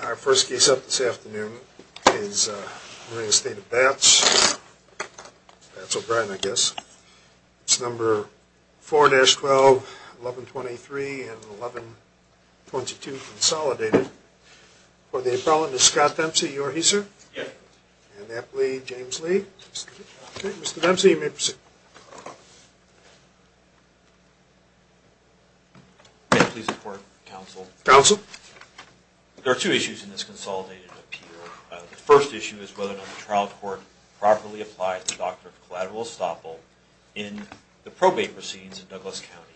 Our first case up this afternoon is re-estate of BATS, BATS O'Brien I guess, it's number 4-12, 1123 and 1122 consolidated. For the appellant is Scott Dempsey, you are he sir? Yes. Okay, Mr. Dempsey, you may proceed. May I please report counsel? Counsel. There are two issues in this consolidated appeal. The first issue is whether or not the trial court properly applied the doctrine of collateral estoppel in the probate proceedings in Douglas County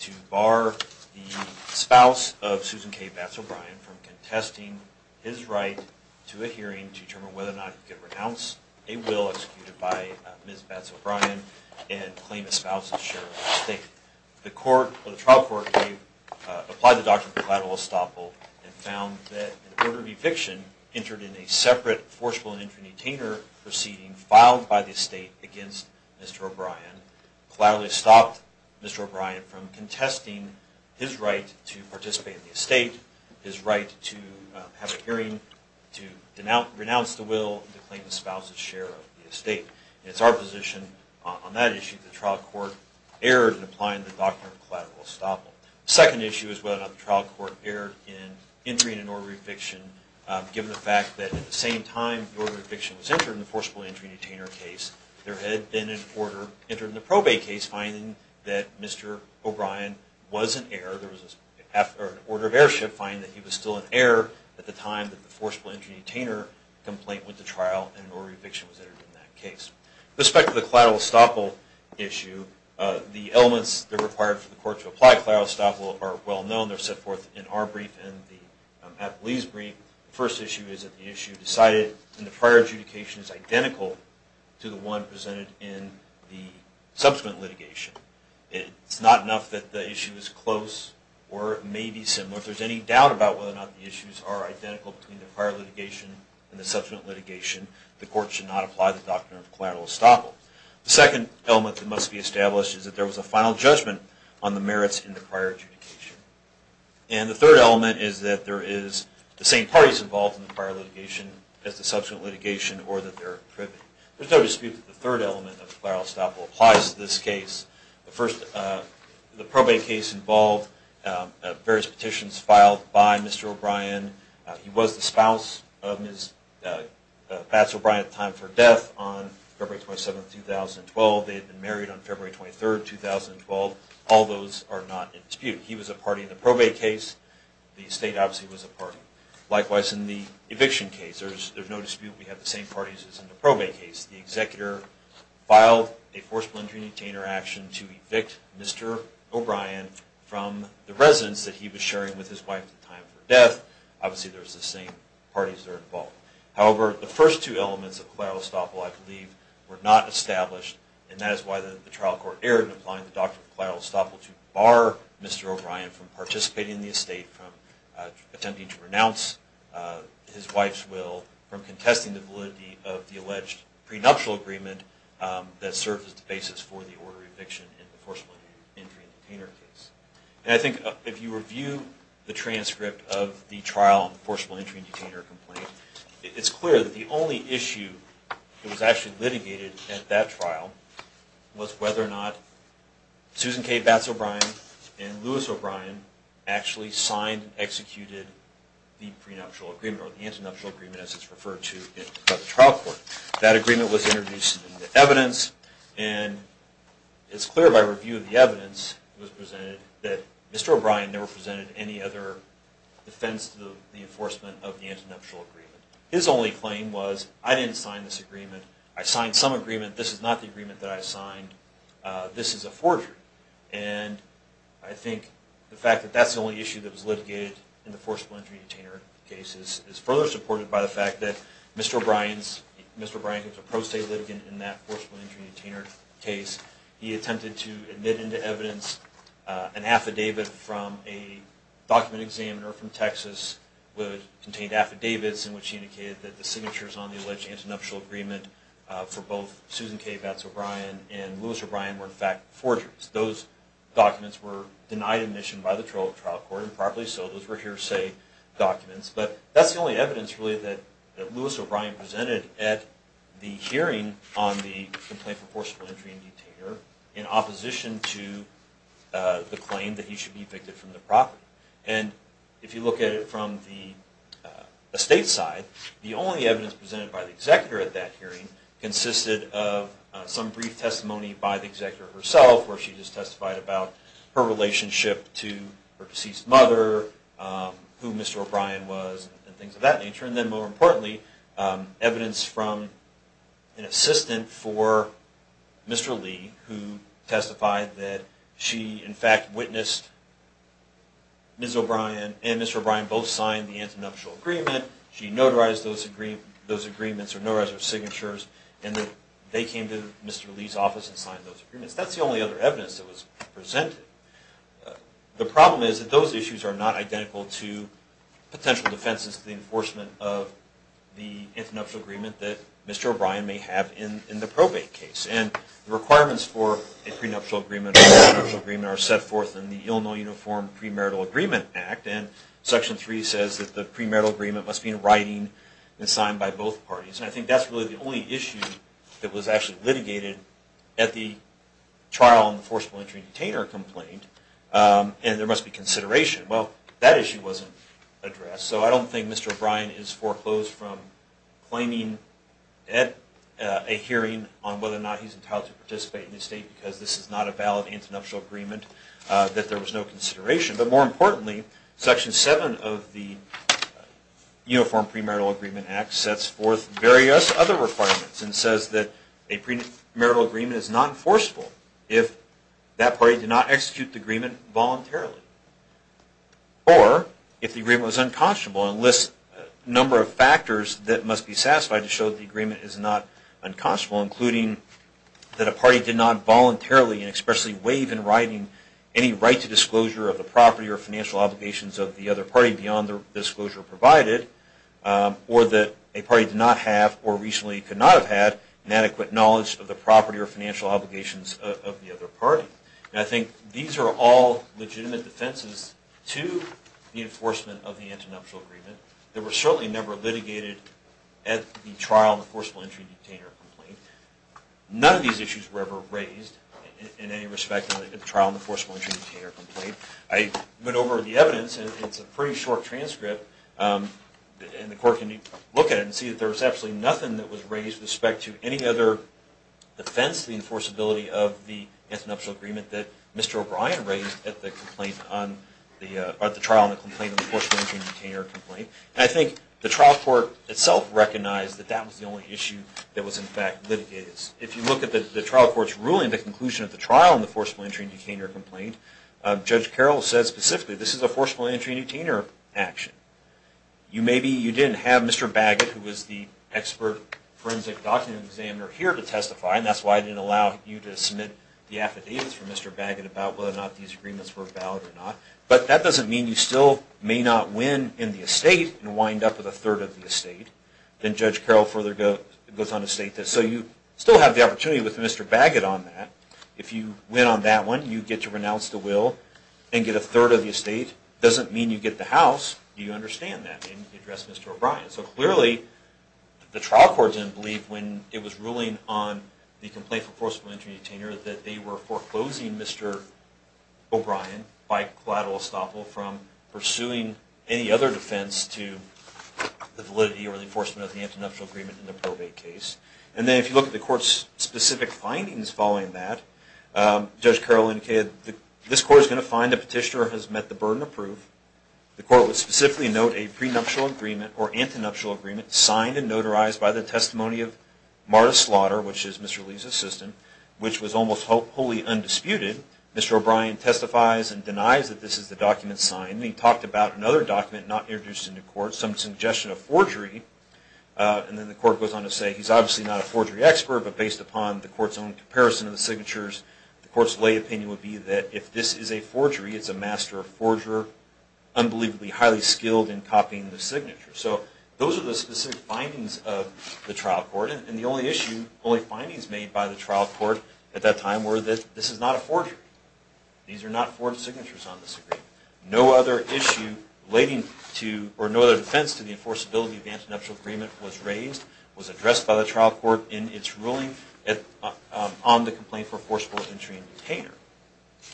to bar the spouse of Susan K. BATS O'Brien from contesting his right to a hearing to determine whether or not he could renounce a will executed by Ms. BATS O'Brien and claim a spouse's share of the estate. The trial court applied the doctrine of collateral estoppel and found that in order of eviction, entered in a separate forcible and infant detainer proceeding filed by the estate against Mr. O'Brien, collaterally stopped Mr. O'Brien from contesting his right to participate in the estate, his right to have a hearing to renounce the will to claim the spouse's share of the estate. It's our position on that issue that the trial court erred in applying the doctrine of collateral estoppel. The second issue is whether or not the trial court erred in entering an order of eviction given the fact that at the same time the order of eviction was entered in the forcible injury detainer case, there had been an order entered in the probate case finding that Mr. O'Brien was an heir. There was an order of heirship finding that he was still an heir at the time that the forcible injury detainer complaint went to trial and an order of eviction was entered in that case. With respect to the collateral estoppel issue, the elements that are required for the court to apply collateral estoppel are well known. They're set forth in our brief and the Appellee's brief. The first issue is that the issue decided in the prior adjudication is identical to the one presented in the subsequent litigation. It's not enough that the issue is close or it may be similar. If there's any doubt about whether or not the issues are identical between the prior litigation and the subsequent litigation, the court should not apply the doctrine of collateral estoppel. The second element that must be established is that there was a final judgment on the merits in the prior adjudication. And the third element is that there is the same parties involved in the prior litigation as the subsequent litigation or that they're privy. There's no dispute that the third element of collateral estoppel applies to this case. The first, the probate case involved various petitions filed by Mr. O'Brien. He was the spouse of Ms. Pats O'Brien at the time of her death on February 27, 2012. They had been married on February 23, 2012. All those are not in dispute. He was a party in the probate case. The state obviously was a party. Likewise in the eviction case, there's no dispute we have the same parties as in the probate case. The executor filed a forced plundering detainer action to evict Mr. O'Brien from the residence that he was sharing with his wife at the time of her death. Obviously there's the same parties that are involved. However, the first two elements of collateral estoppel I believe were not established and that is why the trial court erred in applying the doctrine of collateral estoppel to bar Mr. O'Brien from participating in the estate, from attempting to renounce his wife's will, from contesting the validity of the alleged prenuptial agreement that served as the basis for the order of eviction in the forcible entry and detainer case. And I think if you review the transcript of the trial on the forcible entry and detainer complaint, it's clear that the only issue that was actually litigated at that trial was whether or not Susan K. Batts O'Brien and Louis O'Brien actually signed and executed the prenuptial agreement or the antinuptial agreement as it's referred to in the trial court. That agreement was introduced in the evidence and it's clear by review of the evidence that Mr. O'Brien never presented any other defense to the enforcement of the antinuptial agreement. His only claim was, I didn't sign this agreement, I signed some agreement, this is not the agreement that I signed, this is a forgery. And I think the fact that that's the only issue that was litigated in the forcible entry and detainer case is further supported by the fact that Mr. O'Brien is a pro-state litigant in that forcible entry and detainer case. He attempted to admit into evidence an affidavit from a document examiner from Texas that contained affidavits in which he indicated that the signatures on the alleged antinuptial agreement for both Susan K. Batts O'Brien and Louis O'Brien were in fact forgeries. Those documents were denied admission by the trial court improperly so those were hearsay documents. But that's the only evidence really that Louis O'Brien presented at the hearing on the complaint for forcible entry and detainer in opposition to the claim that he should be evicted from the property. And if you look at it from the estate side, the only evidence presented by the executor at that hearing consisted of some brief testimony by the executor herself where she just testified about her relationship to her deceased mother, who Mr. O'Brien was and things of that nature. And then more importantly, evidence from an assistant for Mr. Lee who testified that she in fact witnessed Ms. O'Brien and Mr. O'Brien both signed the antinuptial agreement. She notarized those agreements or notarized her signatures and that they came to Mr. Lee's office and signed those agreements. That's the only other evidence that was presented. The problem is that those issues are not identical to potential defenses to the enforcement of the antinuptial agreement that Mr. O'Brien may have in the probate case. And the requirements for a prenuptial agreement or an antinuptial agreement are set forth in the Illinois Uniform Premarital Agreement Act and Section 3 says that the premarital agreement must be in writing and signed by both parties. And I think that's really the only issue that was actually litigated at the trial on the forcible entry detainer complaint and there must be consideration. Well, that issue wasn't addressed. So I don't think Mr. O'Brien is foreclosed from claiming at a hearing on whether or not he's entitled to participate in the state because this is not a valid antinuptial agreement that there was no consideration. But more importantly, Section 7 of the Uniform Premarital Agreement Act sets forth various other requirements and says that a premarital agreement is not enforceable if that party did not execute the agreement voluntarily or if the agreement was unconscionable and lists a number of factors that must be satisfied to show that the agreement is not unconscionable including that a party did not voluntarily and expressly waive in writing any right to disclosure of the property or financial obligations of the other party beyond the disclosure provided or that a party did not have or recently could not have had an adequate knowledge of the property or financial obligations of the other party. And I think these are all legitimate defenses to the enforcement of the antinuptial agreement. They were certainly never litigated at the trial in the forcible entry and detainer complaint. None of these issues were ever raised in any respect in the trial in the forcible entry and detainer complaint. I went over the evidence and it's a pretty short transcript and the court can look at it and see that there was absolutely nothing that was raised with respect to any other defense to the enforceability of the antinuptial agreement that Mr. O'Brien raised at the trial in the forcible entry and detainer complaint. And I think the trial court itself recognized that that was the only issue that was in fact litigated. If you look at the trial court's ruling, the conclusion of the trial in the forcible entry and detainer complaint, Judge Carroll said specifically this is a forcible entry and detainer action. You maybe, you didn't have Mr. Baggett who was the expert forensic document examiner here to testify and that's why I didn't allow you to submit the affidavits from Mr. Baggett about whether or not these agreements were valid or not. But that doesn't mean you still may not win in the estate and wind up with a third of the estate. And Judge Carroll further goes on to state this. So you still have the opportunity with Mr. Baggett on that. If you win on that one, you get to renounce the will and get a third of the estate. Doesn't mean you get the house. Do you understand that? And you address Mr. O'Brien. So clearly the trial court didn't believe when it was ruling on the complaint for forcible entry and detainer that they were foreclosing Mr. O'Brien by collateral estoppel from pursuing any other defense to the validity or the enforcement of the antinuptial agreement in the probate case. And then if you look at the court's specific findings following that, Judge Carroll indicated this court is going to find the petitioner has met the burden of proof. The court would specifically note a prenuptial agreement or antinuptial agreement signed and notarized by the testimony of Marta Slaughter, which is Mr. Lee's assistant, which was almost wholly undisputed. Mr. O'Brien testifies and denies that this is the document signed. And he talked about another document not introduced into court, some suggestion of forgery. And then the court goes on to say he's obviously not a forgery expert, but based upon the court's own comparison of the signatures, the court's lay opinion would be that if this is a forgery, it's a master forger unbelievably highly skilled in copying the signature. So those are the specific findings of the trial court. And the only issue, only findings made by the time were that this is not a forgery. These are not forged signatures on this agreement. No other issue relating to or no other defense to the enforceability of the antinuptial agreement was raised, was addressed by the trial court in its ruling on the complaint for forceful entry and detainer.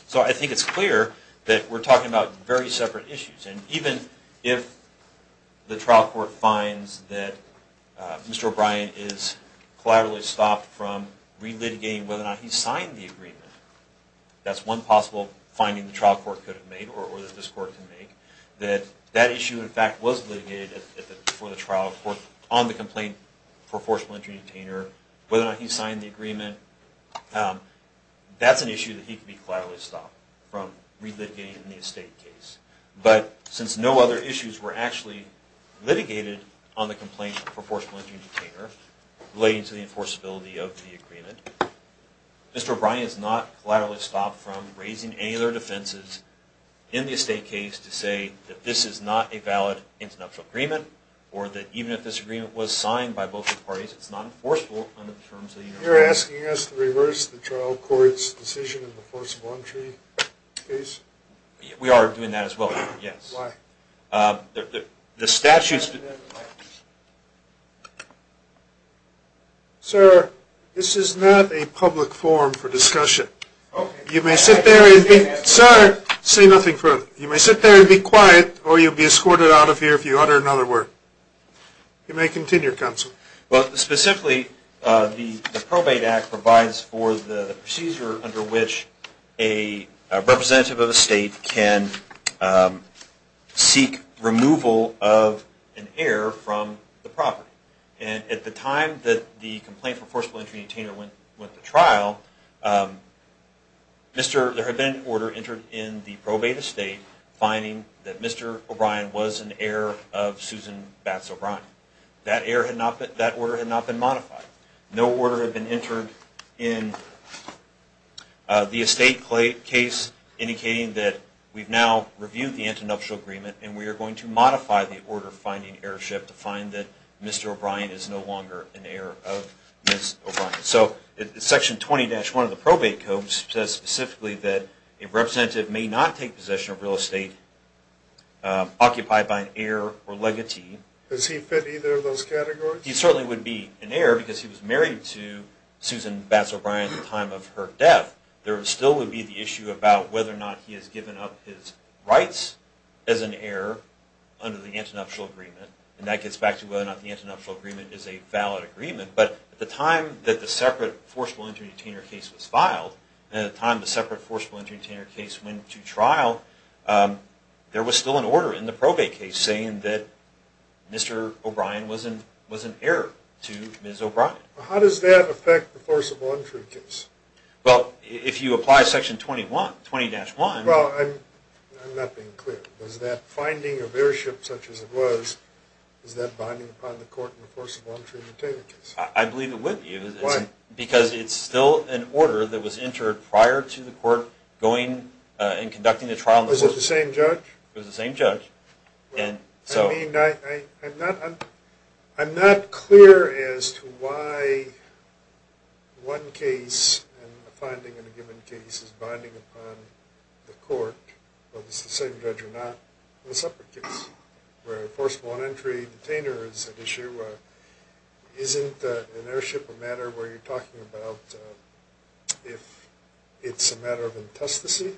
So I think it's clear that we're talking about very separate issues. And even if the trial court finds that Mr. O'Brien is collaterally stopped from relitigating whether or not he signed the agreement, that's one possible finding the trial court could have made or that this court can make, that that issue in fact was litigated for the trial court on the complaint for forceful entry and detainer, whether or not he signed the agreement, that's an issue that he could be collaterally stopped from relitigating in the estate case. But since no other issues were actually litigated on the complaint for Mr. O'Brien is not collaterally stopped from raising any other defenses in the estate case to say that this is not a valid antinuptial agreement or that even if this agreement was signed by both parties, it's not enforceable under the terms of the United States. You're asking us to reverse the trial court's decision in the forceful entry case? We are doing that as well, yes. Why? The statutes... Sir, this is not a public forum for discussion. Okay. You may sit there and be... Sir, say nothing further. You may sit there and be quiet or you'll be escorted out of here if you utter another word. You may continue, Counsel. Well, specifically, the Probate Act provides for the procedure under which a representative of a state can seek removal of an heir from the property. And at the time that the complaint for forceful entry and retainer went to trial, there had been an order entered in the probate estate finding that Mr. O'Brien was an heir of Susan Batts O'Brien. That order had not been modified. No order had been entered in the estate case indicating that we've now reviewed the internuptial agreement and we are going to modify the order finding heirship to find that Mr. O'Brien is no longer an heir of Ms. O'Brien. So Section 20-1 of the Probate Code says specifically that a representative may not take possession of real estate occupied by an heir or legatee. Does he fit either of those categories? He certainly would be an heir because he was married to Susan Batts O'Brien at the time of her death. There still would be the issue about whether or not he has given up his rights as an heir under the internuptial agreement. And that gets back to whether or not the internuptial agreement is a valid agreement. But at the time that the separate forceful entry and retainer case was filed, and at the time the separate forceful entry and retainer case went to trial, there was still an order in the probate case saying that Mr. O'Brien was an heir to Ms. O'Brien. How does that affect the forcible entry case? Well, if you apply Section 20-1... Well, I'm not being clear. Was that finding of heirship such as it was, is that binding upon the court in the forcible entry and retainer case? I believe it would be. Why? Because it's still an order that was entered prior to the court going and conducting the trial. Was it the same judge? It was the same judge. I'm not clear as to why one case, a finding in a given case, is binding upon the court, whether it's the same judge or not. In the separate case where the forcible entry and retainer is at issue, isn't an heirship a matter where you're talking about if it's a matter of intestacy?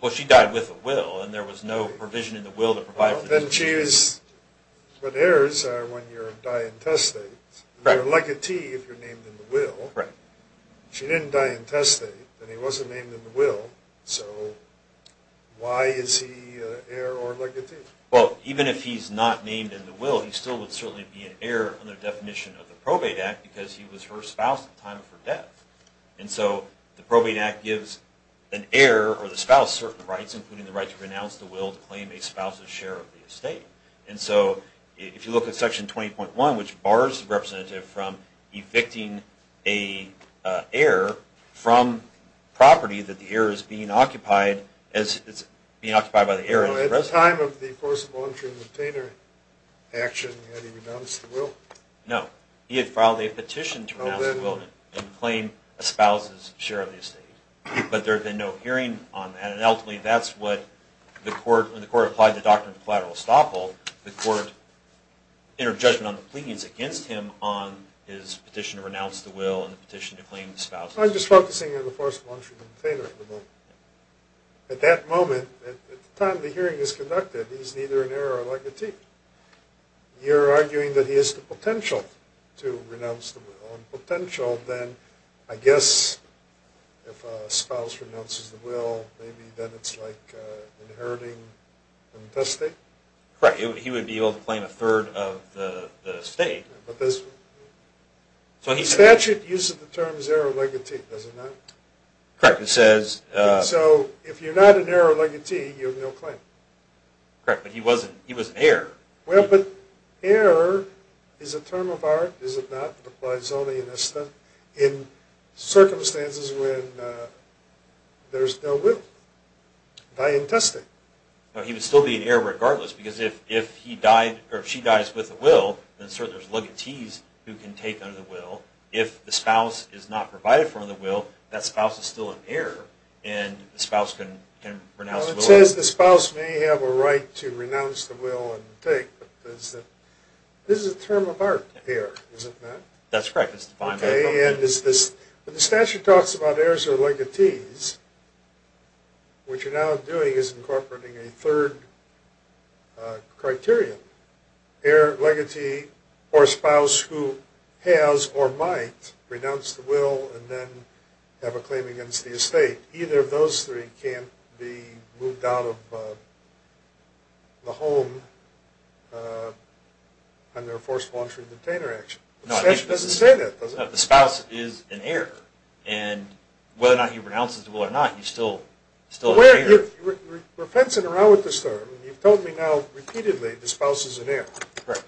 Well, she died with a will, and there was no provision in the will to provide... But heirs are when you're a di-intestate. You're a legatee if you're named in the will. She didn't di-intestate, and he wasn't named in the will, so why is he heir or legatee? Well, even if he's not named in the will, he still would certainly be an heir under the definition of the Probate Act because he was her spouse at the time of her death. And so the Probate Act gives an heir or the spouse certain rights, including the right to renounce the will to claim a spouse's share of the estate. And so if you look at Section 20.1, which bars the representative from evicting a heir So at the time of the forcible entry and retainer action, had he renounced the will? No. He had filed a petition to renounce the will and claim a spouse's share of the estate. But there had been no hearing on that, and ultimately that's what the court, when the court applied the Doctrine of Collateral Estoppel, the court entered judgment on the pleadings against him on his petition to renounce the will and the petition to claim the spouse's share. I'm just focusing on the forcible entry and retainer for the moment. At that moment, at the time the hearing is conducted, he's neither an heir or a legatee. You're arguing that he has the potential to renounce the will, and potential then, I guess, if a spouse renounces the will, maybe then it's like inheriting the estate? Correct. He would be able to claim a third of the estate. So in statute, use of the terms heir or legatee, does it not? Correct. It says... So if you're not an heir or legatee, you have no claim? Correct. But he was an heir. Well, but heir is a term of art, is it not? It applies only in Eston. In circumstances when there's no will, by intestate. He would still be an heir regardless, because if he died, or if she dies with a will, then certainly there's legatees who can take under the will. If the spouse is not provided for under the will, that spouse is still an heir, and the spouse can renounce the will. Well, it says the spouse may have a right to renounce the will and take, but this is a term of art, heir, is it not? That's correct. It's defined by the Constitution. Okay, and is this... When the statute talks about heirs or legatees, what you're now doing is incorporating a third criterion. So, heir, legatee, or spouse who has or might renounce the will and then have a claim against the estate, either of those three can't be moved out of the home under a forced launcher and container action. The statute doesn't say that, does it? No, the spouse is an heir, and whether or not he renounces the will or not, he's still an heir. We're fencing around with this term. You've told me now repeatedly the spouse is an heir. Correct.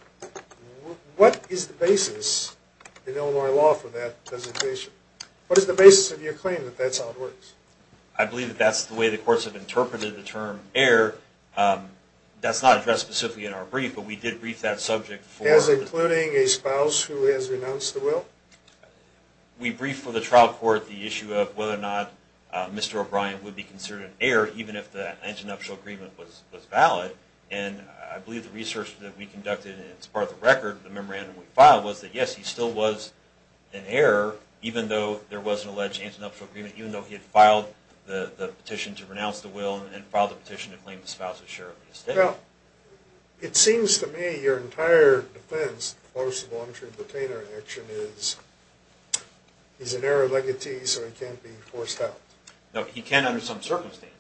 What is the basis in Illinois law for that designation? What is the basis of your claim that that's how it works? I believe that that's the way the courts have interpreted the term heir. That's not addressed specifically in our brief, but we did brief that subject for... As including a spouse who has renounced the will? We briefed for the trial court the issue of whether or not Mr. O'Brien would be considered an heir even if the antenuptial agreement was valid, and I believe the research that we conducted as part of the record, the memorandum we filed, was that yes, he still was an heir even though there was an alleged antenuptial agreement, even though he had filed the petition to renounce the will and filed the petition to claim the spouse as sheriff of the estate. Well, it seems to me your entire defense of the forced launcher and container action is he's an heir of legatee, so he can't be forced out. No, he can under some circumstances.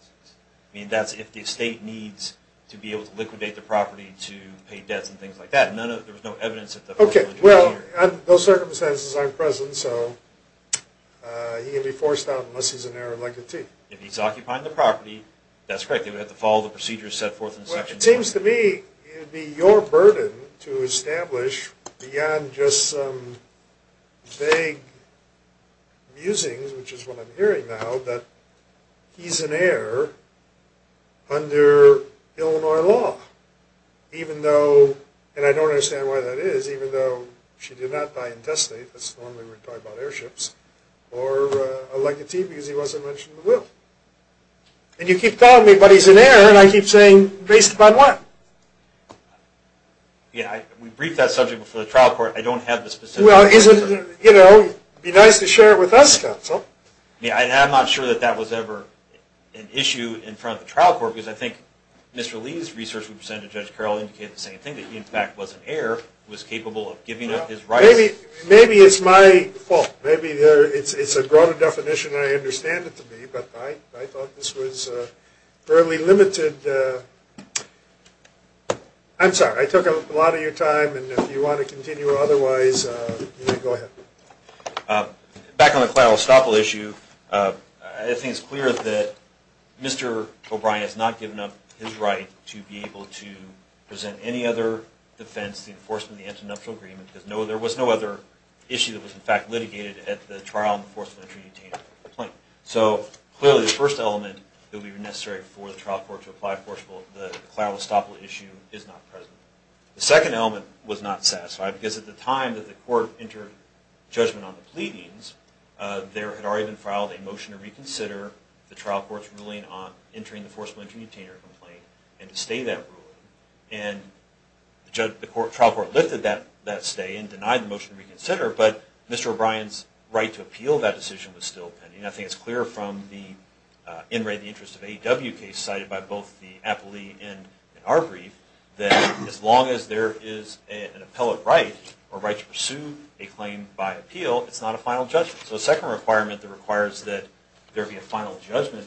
I mean, that's if the estate needs to be able to liquidate the property to pay debts and things like that. There was no evidence that the... Okay, well, those circumstances aren't present, so he can be forced out unless he's an heir of legatee. If he's occupying the property, that's correct. He would have to follow the procedures set forth in section... Well, it seems to me it would be your burden to establish beyond just some vague musings, which is what I'm hearing now, that he's an heir under Illinois law, even though, and I don't understand why that is, even though she did not buy intestate, that's the one we were talking about, airships, or a legatee because he wasn't mentioned in the will. And you keep telling me, but he's an heir, and I keep saying, based upon what? Yeah, we briefed that subject before the trial court. I don't have the specific answer. Well, be nice to share it with us, counsel. Yeah, I'm not sure that that was ever an issue in front of the trial court because I think Mr. Lee's research we presented to Judge Carroll indicated the same thing, that he, in fact, was an heir, was capable of giving up his rights. Maybe it's my fault. Maybe it's a broader definition, and I understand it to be, but I thought this was fairly limited. I'm sorry. I took a lot of your time, and if you want to continue otherwise, you may go ahead. Back on the Clyde Ostopol issue, I think it's clear that Mr. O'Brien has not given up his right to be able to present any other defense, the enforcement of the Antinomial Agreement, because there was no other issue that was, in fact, litigated at the trial enforcement So, clearly, the first element that would be necessary for the trial court to apply for the Clyde Ostopol issue is not present. The second element was not satisfied because at the time that the court entered judgment on the pleadings, there had already been filed a motion to reconsider the trial court's ruling on entering the forcible entry detainer complaint and to stay that ruling. And the trial court lifted that stay and denied the motion to reconsider, but Mr. O'Brien's right to appeal that decision was still pending. I think it's clear from the In Re, the Interest of A.W. case cited by both the appellee and our brief that as long as there is an appellate right or right to pursue a claim by appeal, it's not a final judgment. So, the second requirement that requires that there be a final judgment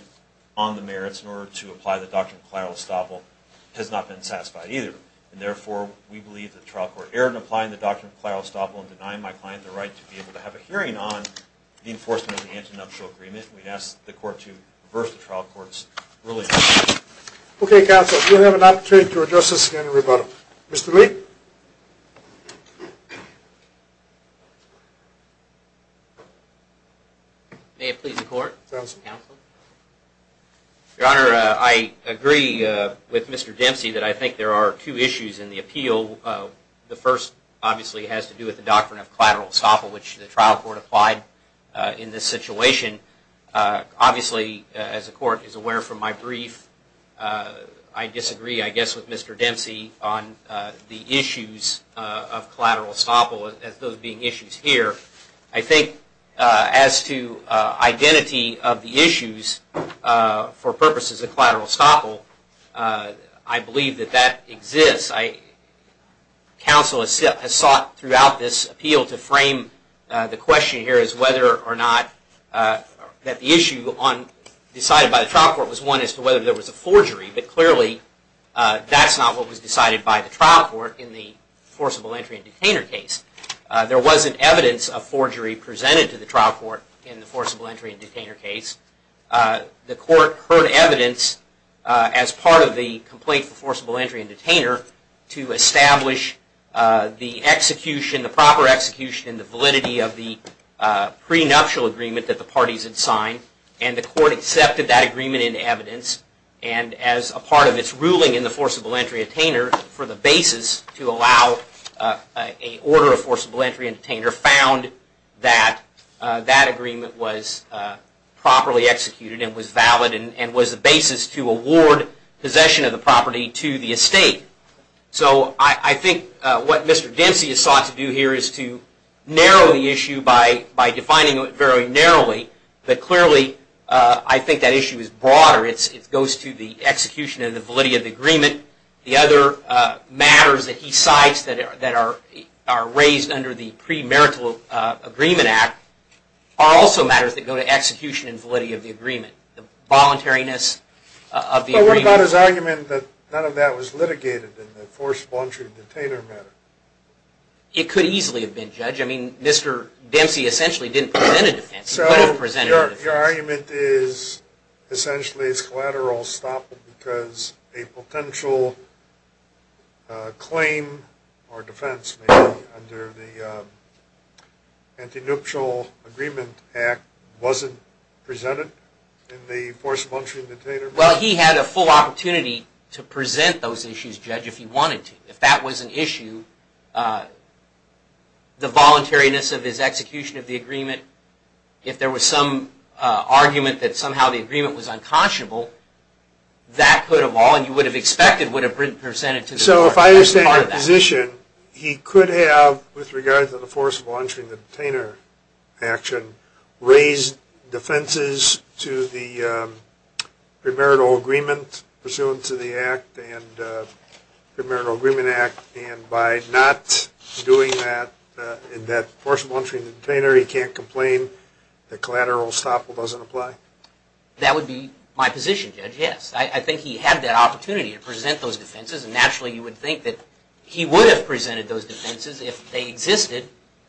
on the merits in order to apply the Doctrine of Clyde Ostopol has not been satisfied either. And therefore, we believe that the trial court erred in applying the Doctrine of Clyde Ostopol and denying my client the right to be able to have a hearing on the enforcement of the antinatural agreement. We ask the court to reverse the trial court's ruling. Okay, counsel. We'll have an opportunity to address this again in rebuttal. Mr. Lee? May it please the court? Counsel. Your Honor, I agree with Mr. Dempsey that I think there are two issues in the appeal. The first obviously has to do with the Doctrine of Clyde Ostopol which the trial court applied in this situation. Obviously, as the court is aware from my brief, I disagree, I guess, with Mr. Dempsey on the issues of Clyde Ostopol as those being issues here. I think as to identity of the issues for purposes of Clyde Ostopol, I believe that that exists. Counsel has sought throughout this appeal to frame the question here as whether or not that the issue decided by the trial court was one as to whether there was a forgery. But clearly, that's not what was decided by the trial court in the forcible entry and detainer case. There wasn't evidence of forgery presented to the trial court in the forcible entry and detainer case. The court heard evidence as part of the complaint for forcible entry and detainer to establish the execution, the proper execution and the validity of the prenuptial agreement that the parties had signed. And the court accepted that agreement in evidence and as a part of its ruling in the forcible entry and detainer for the basis to allow a order of forcible entry and detainer found that that agreement was properly executed and was valid and was the basis to award possession of the property to the estate. So I think what Mr. Dempsey has sought to do here is to narrow the issue by defining it very narrowly. But clearly, I think that issue is broader. It goes to the execution and the validity of the agreement. The other matters that he cites that are raised under the premarital agreement act are also matters that go to execution and validity of the agreement, the voluntariness of the agreement. But what about his argument that none of that was litigated in the forcible entry and detainer matter? It could easily have been, Judge. I mean, Mr. Dempsey essentially didn't present a defense. He could have presented a defense. Your argument is essentially it's collateral stop because a potential claim or defense under the anti-neutral agreement act wasn't presented in the forcible entry and detainer matter? Well, he had a full opportunity to present those issues, Judge, if he wanted to. If that was an issue, the voluntariness of his execution of the agreement, if there was some argument that somehow the agreement was unconscionable, that could have all, and you would have expected, would have been presented to the court. So if I understand your position, he could have, with regard to the forcible entry and the detainer action, raised defenses to the premarital agreement pursuant to the act and the premarital agreement act. And by not doing that in that forcible entry and detainer, he can't complain that collateral stop doesn't apply? That would be my position, Judge, yes. I think he had that opportunity to present those defenses, and naturally you would think that he would have presented those defenses if they existed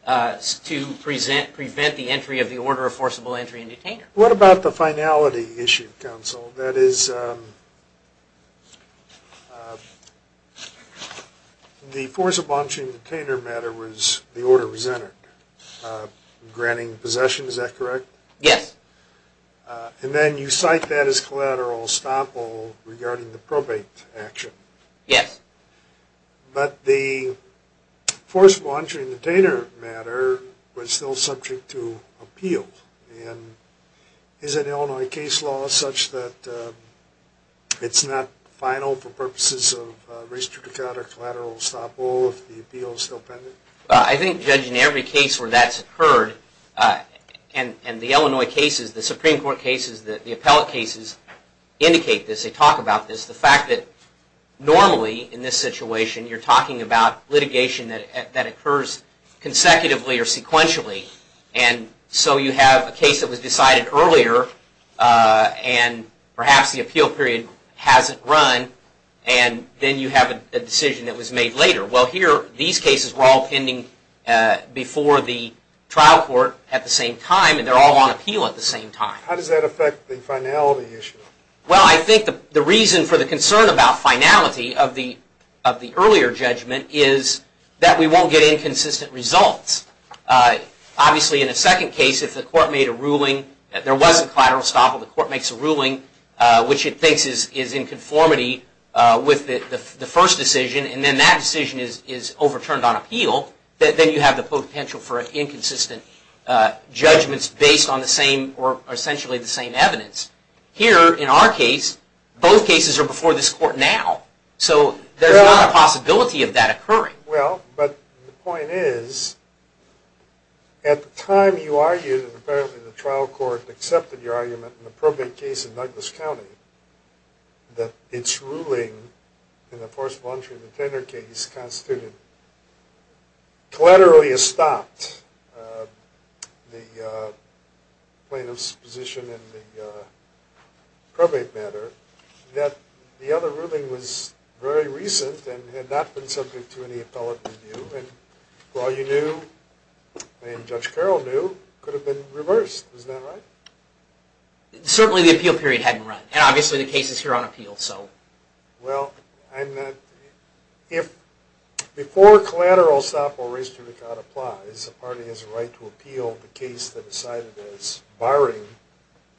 to prevent the entry of the order of forcible entry and detainer. What about the finality issue, counsel? That is, the forcible entry and detainer matter was, the order was entered, granting possession, is that correct? Yes. And then you cite that as collateral estoppel regarding the probate action. Yes. But the forcible entry and detainer matter was still subject to appeal, and is an Illinois case law such that it's not final for purposes of restricted collateral estoppel if the appeal is still pending? I think, Judge, in every case where that's occurred, and the Illinois cases, the Supreme Court cases, the appellate cases indicate this, they talk about this. The fact that normally in this situation you're talking about litigation that occurs consecutively or sequentially, and so you have a case that was decided earlier, and perhaps the appeal period hasn't run, and then you have a decision that was made later. Well, here, these cases were all pending before the trial court at the same time, and they're all on appeal at the same time. How does that affect the finality issue? Well, I think the reason for the concern about finality of the earlier judgment is that we won't get inconsistent results. Obviously, in a second case, if the court made a ruling that there was a collateral estoppel, the court makes a ruling which it thinks is in conformity with the first decision, and then that decision is overturned on appeal, then you have the potential for inconsistent judgments based on the same or essentially the same evidence. Here, in our case, both cases are before this court now, so there's not a possibility of that occurring. Well, but the point is, at the time you argued, and apparently the trial court accepted your argument in the probate case in Douglas County, that its ruling in the first voluntary contender case constituted collateral estoppel, the plaintiff's position in the probate matter, that the other ruling was very recent and had not been subject to any appellate review, and all you knew, and Judge Carroll knew, could have been reversed. Is that right? Certainly the appeal period hadn't run, and obviously the case is here on appeal, so. Well, I'm not... If before collateral estoppel raised to the count applies, a party has a right to appeal the case they decided as barring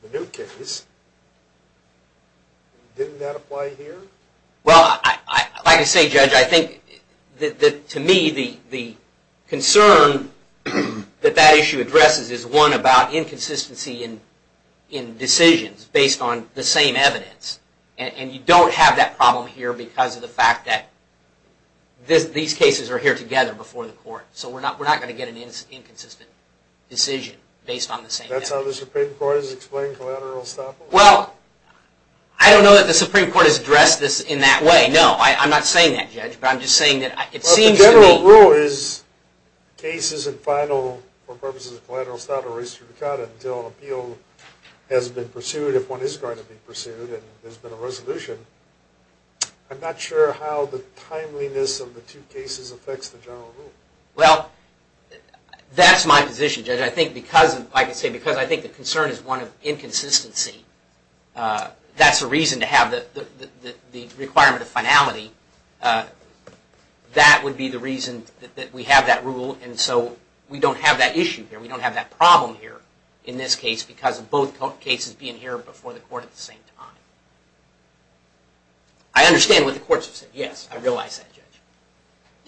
the new case, didn't that apply here? Well, like I say, Judge, I think that to me the concern that that issue addresses is one about inconsistency in decisions based on the same evidence, and you don't have that problem here because of the fact that these cases are here together before the court. So we're not going to get an inconsistent decision based on the same evidence. That's how the Supreme Court has explained collateral estoppel? Well, I don't know that the Supreme Court has addressed this in that way, no. I'm not saying that, Judge, but I'm just saying that it seems to me... If the case isn't final for purposes of collateral estoppel raised to the count until an appeal has been pursued, if one is going to be pursued and there's been a resolution, I'm not sure how the timeliness of the two cases affects the general rule. Well, that's my position, Judge. I think because, like I say, because I think the concern is one of inconsistency, that's a reason to have the requirement of finality. That would be the reason that we have that rule, and so we don't have that issue here. We don't have that problem here in this case because of both cases being here before the court at the same time. I understand what the courts have said. Yes, I realize that, Judge.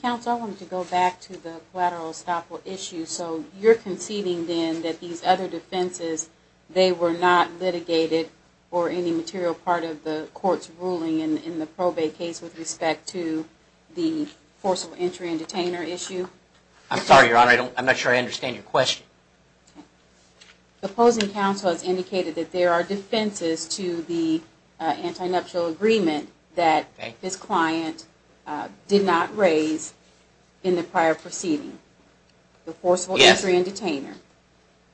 Counsel, I wanted to go back to the collateral estoppel issue. So you're conceding then that these other defenses, they were not litigated for any material part of the court's ruling in the probate case with respect to the forcible entry and detainer issue? I'm sorry, Your Honor. I'm not sure I understand your question. The opposing counsel has indicated that there are defenses to the anti-nuptial agreement that this client did not raise in the prior proceeding, the forcible entry and detainer.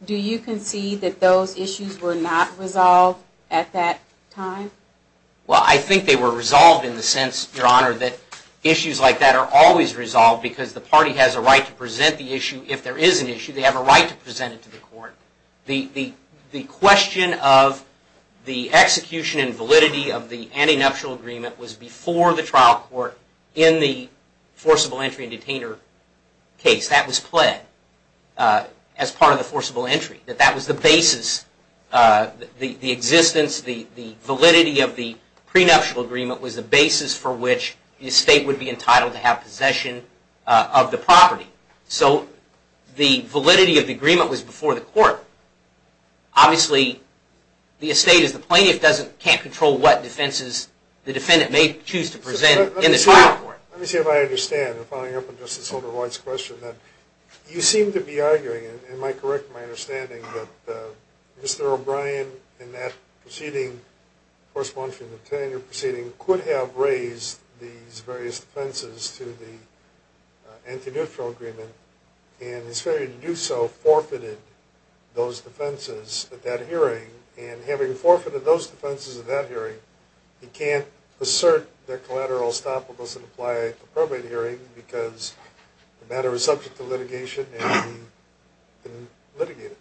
Do you concede that those issues were not resolved at that time? Well, I think they were resolved in the sense, Your Honor, that issues like that are always resolved because the party has a right to present the issue. If there is an issue, they have a right to present it to the court. The question of the execution and validity of the anti-nuptial agreement was before the trial court in the forcible entry and detainer case. That was pled as part of the forcible entry. That was the basis, the existence, the validity of the prenuptial agreement was the basis for which the estate would be entitled to have possession of the property. So the validity of the agreement was before the court. Obviously, the estate is the plaintiff, can't control what defenses the defendant may choose to present in the trial court. Let me see if I understand, following up on Justice Holder White's question, that you seem to be arguing, am I correct in my understanding, that Mr. O'Brien in that proceeding, forcible entry and detainer proceeding, could have raised these various defenses to the anti-nuptial agreement and his failure to do so forfeited those defenses at that hearing. And having forfeited those defenses at that hearing, he can't assert that collateral estoppel doesn't apply at the probate hearing because the matter is subject to litigation and he didn't litigate it.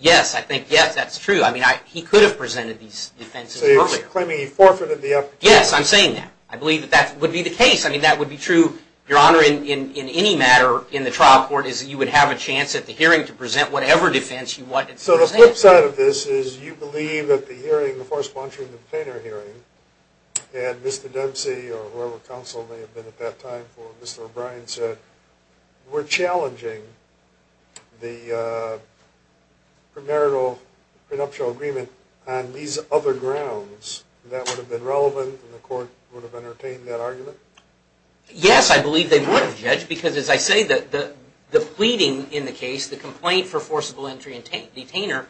Yes, I think, yes, that's true. I mean, he could have presented these defenses earlier. So you're claiming he forfeited the effort? Yes, I'm saying that. I believe that that would be the case. I mean, that would be true, Your Honor, in any matter in the trial court is that you would have a chance at the hearing to present whatever defense you wanted to present. So the flip side of this is you believe that the hearing, the forcible entry and the detainer hearing, had Mr. Dempsey or whoever counsel may have been at that time for Mr. O'Brien said, we're challenging the premarital prenuptial agreement on these other grounds, that would have been relevant and the court would have entertained that argument? Yes, I believe they would have, Judge, because as I say, the pleading in the case, the complaint for forcible entry and detainer,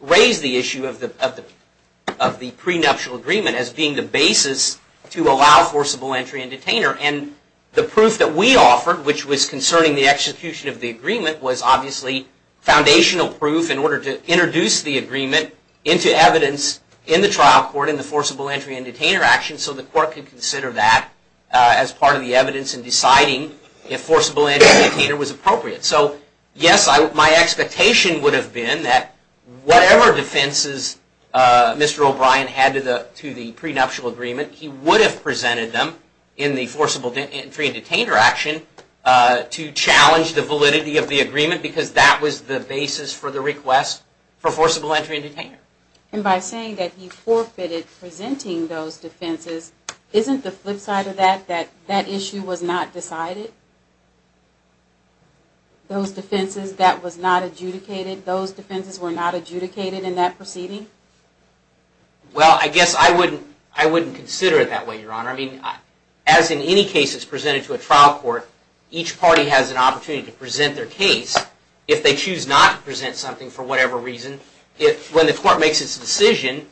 raised the issue of the prenuptial agreement as being the basis to allow forcible entry and detainer. And the proof that we offered, which was concerning the execution of the agreement, was obviously foundational proof in order to introduce the agreement into evidence in the trial court in the forcible entry and detainer action so the court could consider that as part of the evidence in deciding if forcible entry and detainer was appropriate. So yes, my expectation would have been that whatever defenses Mr. O'Brien had to the prenuptial agreement, he would have presented them in the forcible entry and detainer action to challenge the validity of the agreement because that was the basis for the request for forcible entry and detainer. And by saying that he forfeited presenting those defenses, isn't the flip side of that that that issue was not decided? Those defenses that was not adjudicated, those defenses were not adjudicated in that proceeding? Well, I guess I wouldn't consider it that way, Your Honor. I mean, as in any cases presented to a trial court, each party has an opportunity to present their case. If they choose not to present something for whatever reason, when the court makes its decision,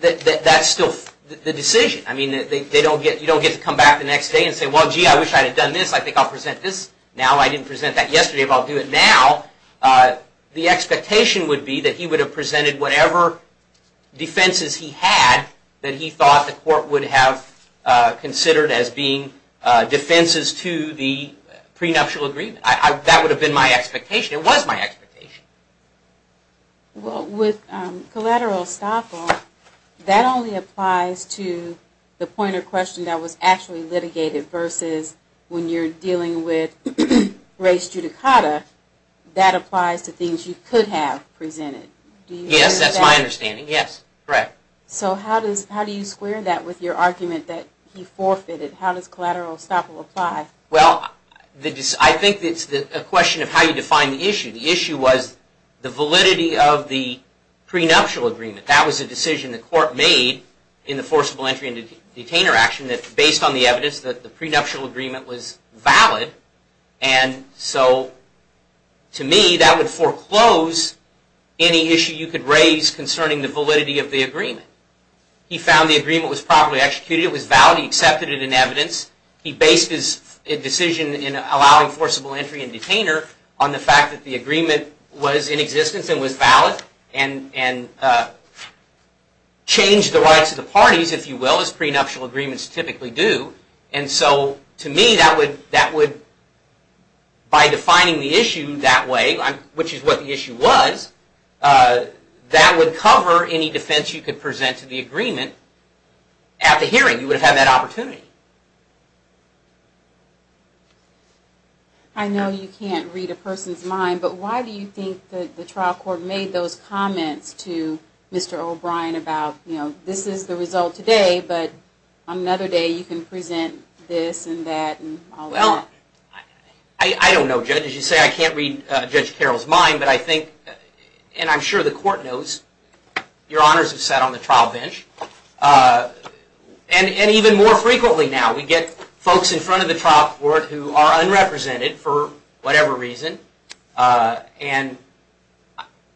that's still the decision. I mean, you don't get to come back the next day and say, well, gee, I wish I had done this. I think I'll present this now. I didn't present that yesterday, but I'll do it now. The expectation would be that he would have presented whatever defenses he had that he thought the court would have considered as being defenses to the prenuptial agreement. That would have been my expectation. It was my expectation. Well, with collateral estoppel, that only applies to the point of question that was actually litigated versus when you're dealing with race judicata. That applies to things you could have presented. Yes, that's my understanding. Yes, correct. So how do you square that with your argument that he forfeited? How does collateral estoppel apply? Well, I think it's a question of how you define the issue. The issue was the validity of the prenuptial agreement. That was a decision the court made in the forcible entry and detainer action that based on the evidence that the prenuptial agreement was valid. And so, to me, that would foreclose any issue you could raise concerning the validity of the agreement. He found the agreement was properly executed. It was valid. He accepted it in evidence. He based his decision in allowing forcible entry and detainer on the fact that the agreement was in existence and was valid and changed the rights of the parties, if you will, as prenuptial agreements typically do. And so, to me, that would, by defining the issue that way, which is what the issue was, that would cover any defense you could present to the agreement at the hearing. You would have had that opportunity. I know you can't read a person's mind, but why do you think the trial court made those comments to Mr. O'Brien about, you know, this is the result today, but on another day you can present this and that and all of that? Well, I don't know, Judge. As you say, I can't read Judge Carroll's mind, but I think, and I'm sure the court knows, your honors have sat on the trial bench. And even more frequently now, we get folks in front of the trial court who are unrepresented, for whatever reason, and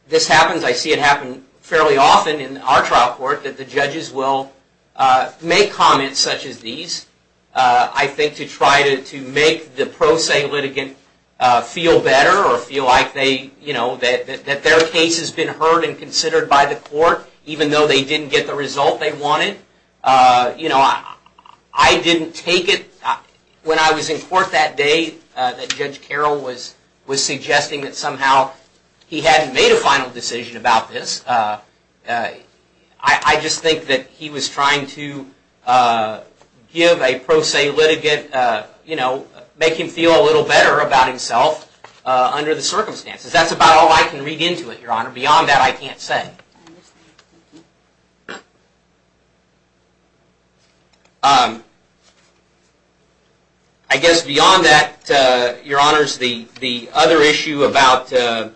this happens. I see it happen fairly often in our trial court that the judges will make comments such as these, I think, to try to make the pro se litigant feel better or feel like they, you know, that their case has been heard and considered by the court, even though they didn't get the result they wanted. You know, I didn't take it when I was in court that day that Judge Carroll was suggesting that somehow he hadn't made a final decision about this. I just think that he was trying to give a pro se litigant, you know, make him feel a little better about himself under the circumstances. That's about all I can read into it, your honor. Beyond that, I can't say. I guess beyond that, your honors, the other issue about this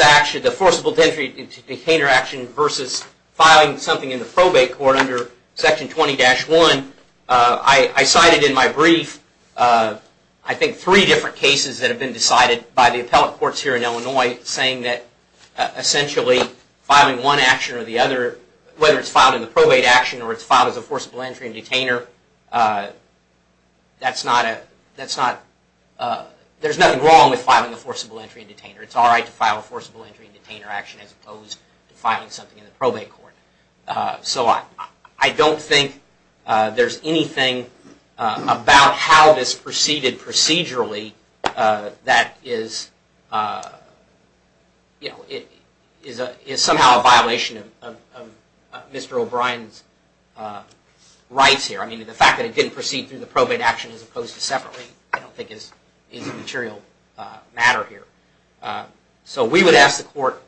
action, the forcible entry into detainer action versus filing something in the probate court under Section 20-1, I cited in my brief, I think, three different cases that have been decided by the appellate courts here in Illinois, saying that essentially filing one action or the other, whether it's filed in the probate action or it's filed as a forcible entry in detainer, that's not a, that's not, there's nothing wrong with filing a forcible entry in detainer. It's all right to file a forcible entry in detainer action as opposed to filing something in the probate court. So I don't think there's anything about how this proceeded procedurally that is, you know, is somehow a violation of Mr. O'Brien's rights here. I mean, the fact that it didn't proceed through the probate action as opposed to separately, I don't think is a material matter here. So we would ask the court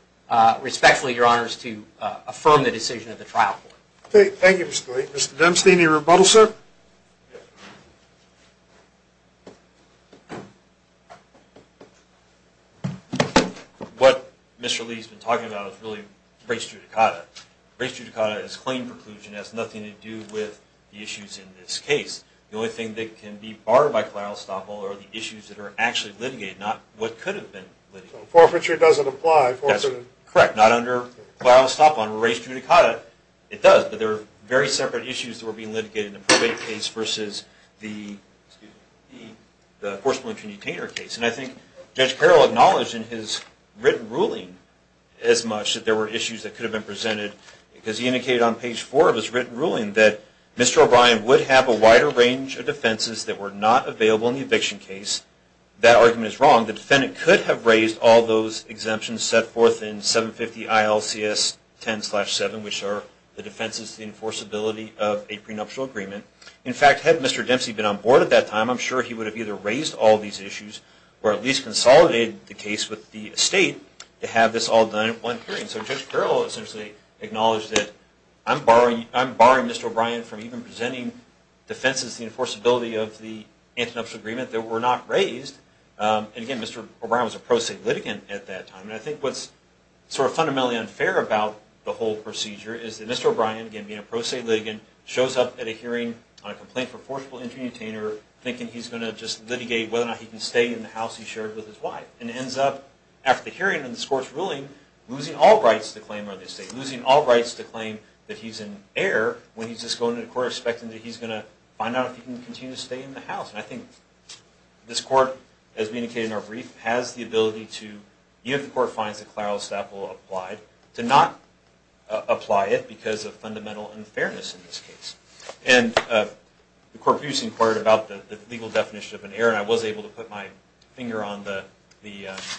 respectfully, your honors, to affirm the decision of the trial court. Mr. Demstein, any rebuttal, sir? Yes. What Mr. Lee's been talking about is really race judicata. Race judicata is claim preclusion. It has nothing to do with the issues in this case. The only thing that can be barred by collateral estoppel are the issues that are actually litigated, not what could have been litigated. Forfeiture doesn't apply. That's correct. Not under collateral estoppel, under race judicata it does, but they're very separate issues that were being litigated in the probate case versus the forced malnutrition detainer case. And I think Judge Carroll acknowledged in his written ruling as much that there were issues that could have been presented because he indicated on page four of his written ruling that Mr. O'Brien would have a wider range of defenses that were not available in the eviction case. That argument is wrong. The defendant could have raised all those exemptions set forth in 750 ILCS 10-7, which are the defenses to the enforceability of a prenuptial agreement. In fact, had Mr. Dempsey been on board at that time, I'm sure he would have either raised all these issues or at least consolidated the case with the estate to have this all done at one hearing. So Judge Carroll essentially acknowledged that I'm barring Mr. O'Brien from even presenting defenses to the enforceability of the antenuptial agreement that were not raised. And again, Mr. O'Brien was a pro se litigant at that time. And I think what's sort of fundamentally unfair about the whole procedure is that Mr. O'Brien, again, being a pro se litigant, shows up at a hearing on a complaint for forcible intermutainer thinking he's going to just litigate whether or not he can stay in the house he shared with his wife. And ends up, after the hearing and this court's ruling, losing all rights to claim on the estate, losing all rights to claim that he's in error when he's just going to the court expecting that he's going to find out if he can continue to stay in the house. And I think this court, as we indicated in our brief, has the ability to, even if the court finds that Clarell Staple applied, to not apply it because of fundamental unfairness in this case. And the court previously inquired about the legal definition of an error, and I was able to put my finger on the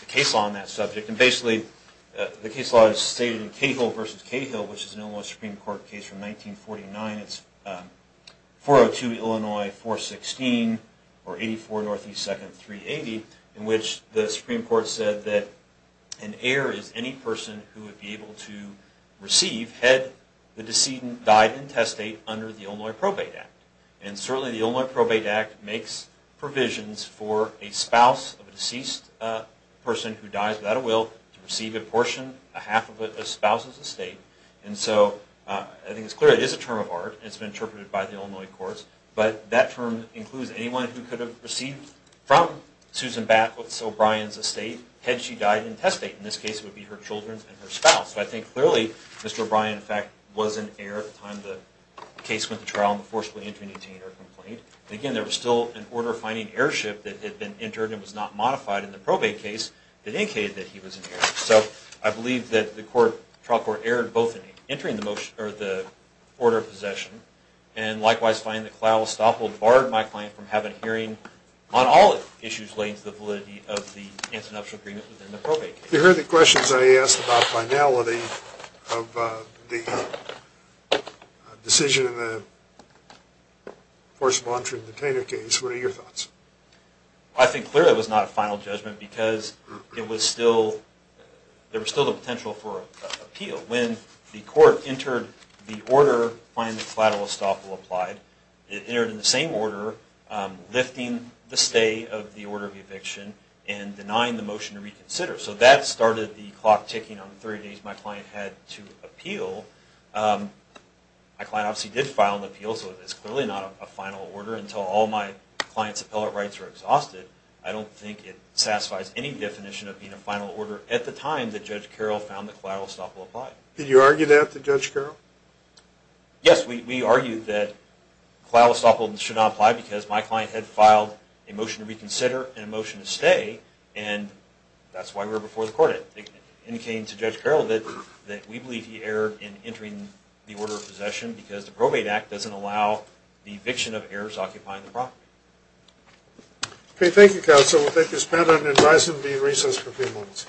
case law on that subject. And basically, the case law is stated in Cahill v. Cahill, which is an Illinois Supreme Court case from 1949. It's 402 Illinois 416, or 84 Northeast 2nd 380, in which the Supreme Court said that an error is any person who would be able to receive, had the decedent died in testate, under the Illinois Probate Act. And certainly, the Illinois Probate Act makes provisions for a spouse of a deceased person who dies without a will to receive a portion, a half of it, a spouse's estate. And so, I think it's clear it is a term of art, and it's been interpreted by the Illinois courts, but that term includes anyone who could have received from Susan Batwitz O'Brien's estate, had she died in testate. In this case, it would be her children and her spouse. So, I think, clearly, Mr. O'Brien, in fact, was an error at the time the case went to trial and the forcefully entering detainer complained. And again, there was still an order of finding airship that had been entered and was not modified in the probate case that indicated that he was an error. So, I believe that the trial court errored both in entering the order of possession and, likewise, finding the cloud was stoppable and barred my client from having a hearing on all issues relating to the validity of the ins and outs of agreement within the probate case. You heard the questions I asked about finality of the decision in the forcefully entering detainer case. What are your thoughts? I think, clearly, it was not a final judgment because there was still the potential for appeal. When the court entered the order finding the cloud was stoppable applied, it entered in the same order, lifting the stay of the order of eviction and denying the motion to reconsider. So, that started the clock ticking on the 30 days my client had to appeal. My client obviously did file an appeal, so it's clearly not a final order until all my client's appellate rights are exhausted. I don't think it satisfies any definition of being a final order at the time that Judge Carroll found the cloud was stoppable applied. Did you argue that with Judge Carroll? Yes, we argued that cloud was stoppable and should not apply because my client had filed a motion to reconsider and a motion to stay and that's why we were before the court. It indicated to Judge Carroll that we believe he erred in entering the order of possession because the probate act doesn't allow the eviction of errors occupying the property. Okay, thank you counsel. We'll take this panel and advise them to be in recess for a few moments.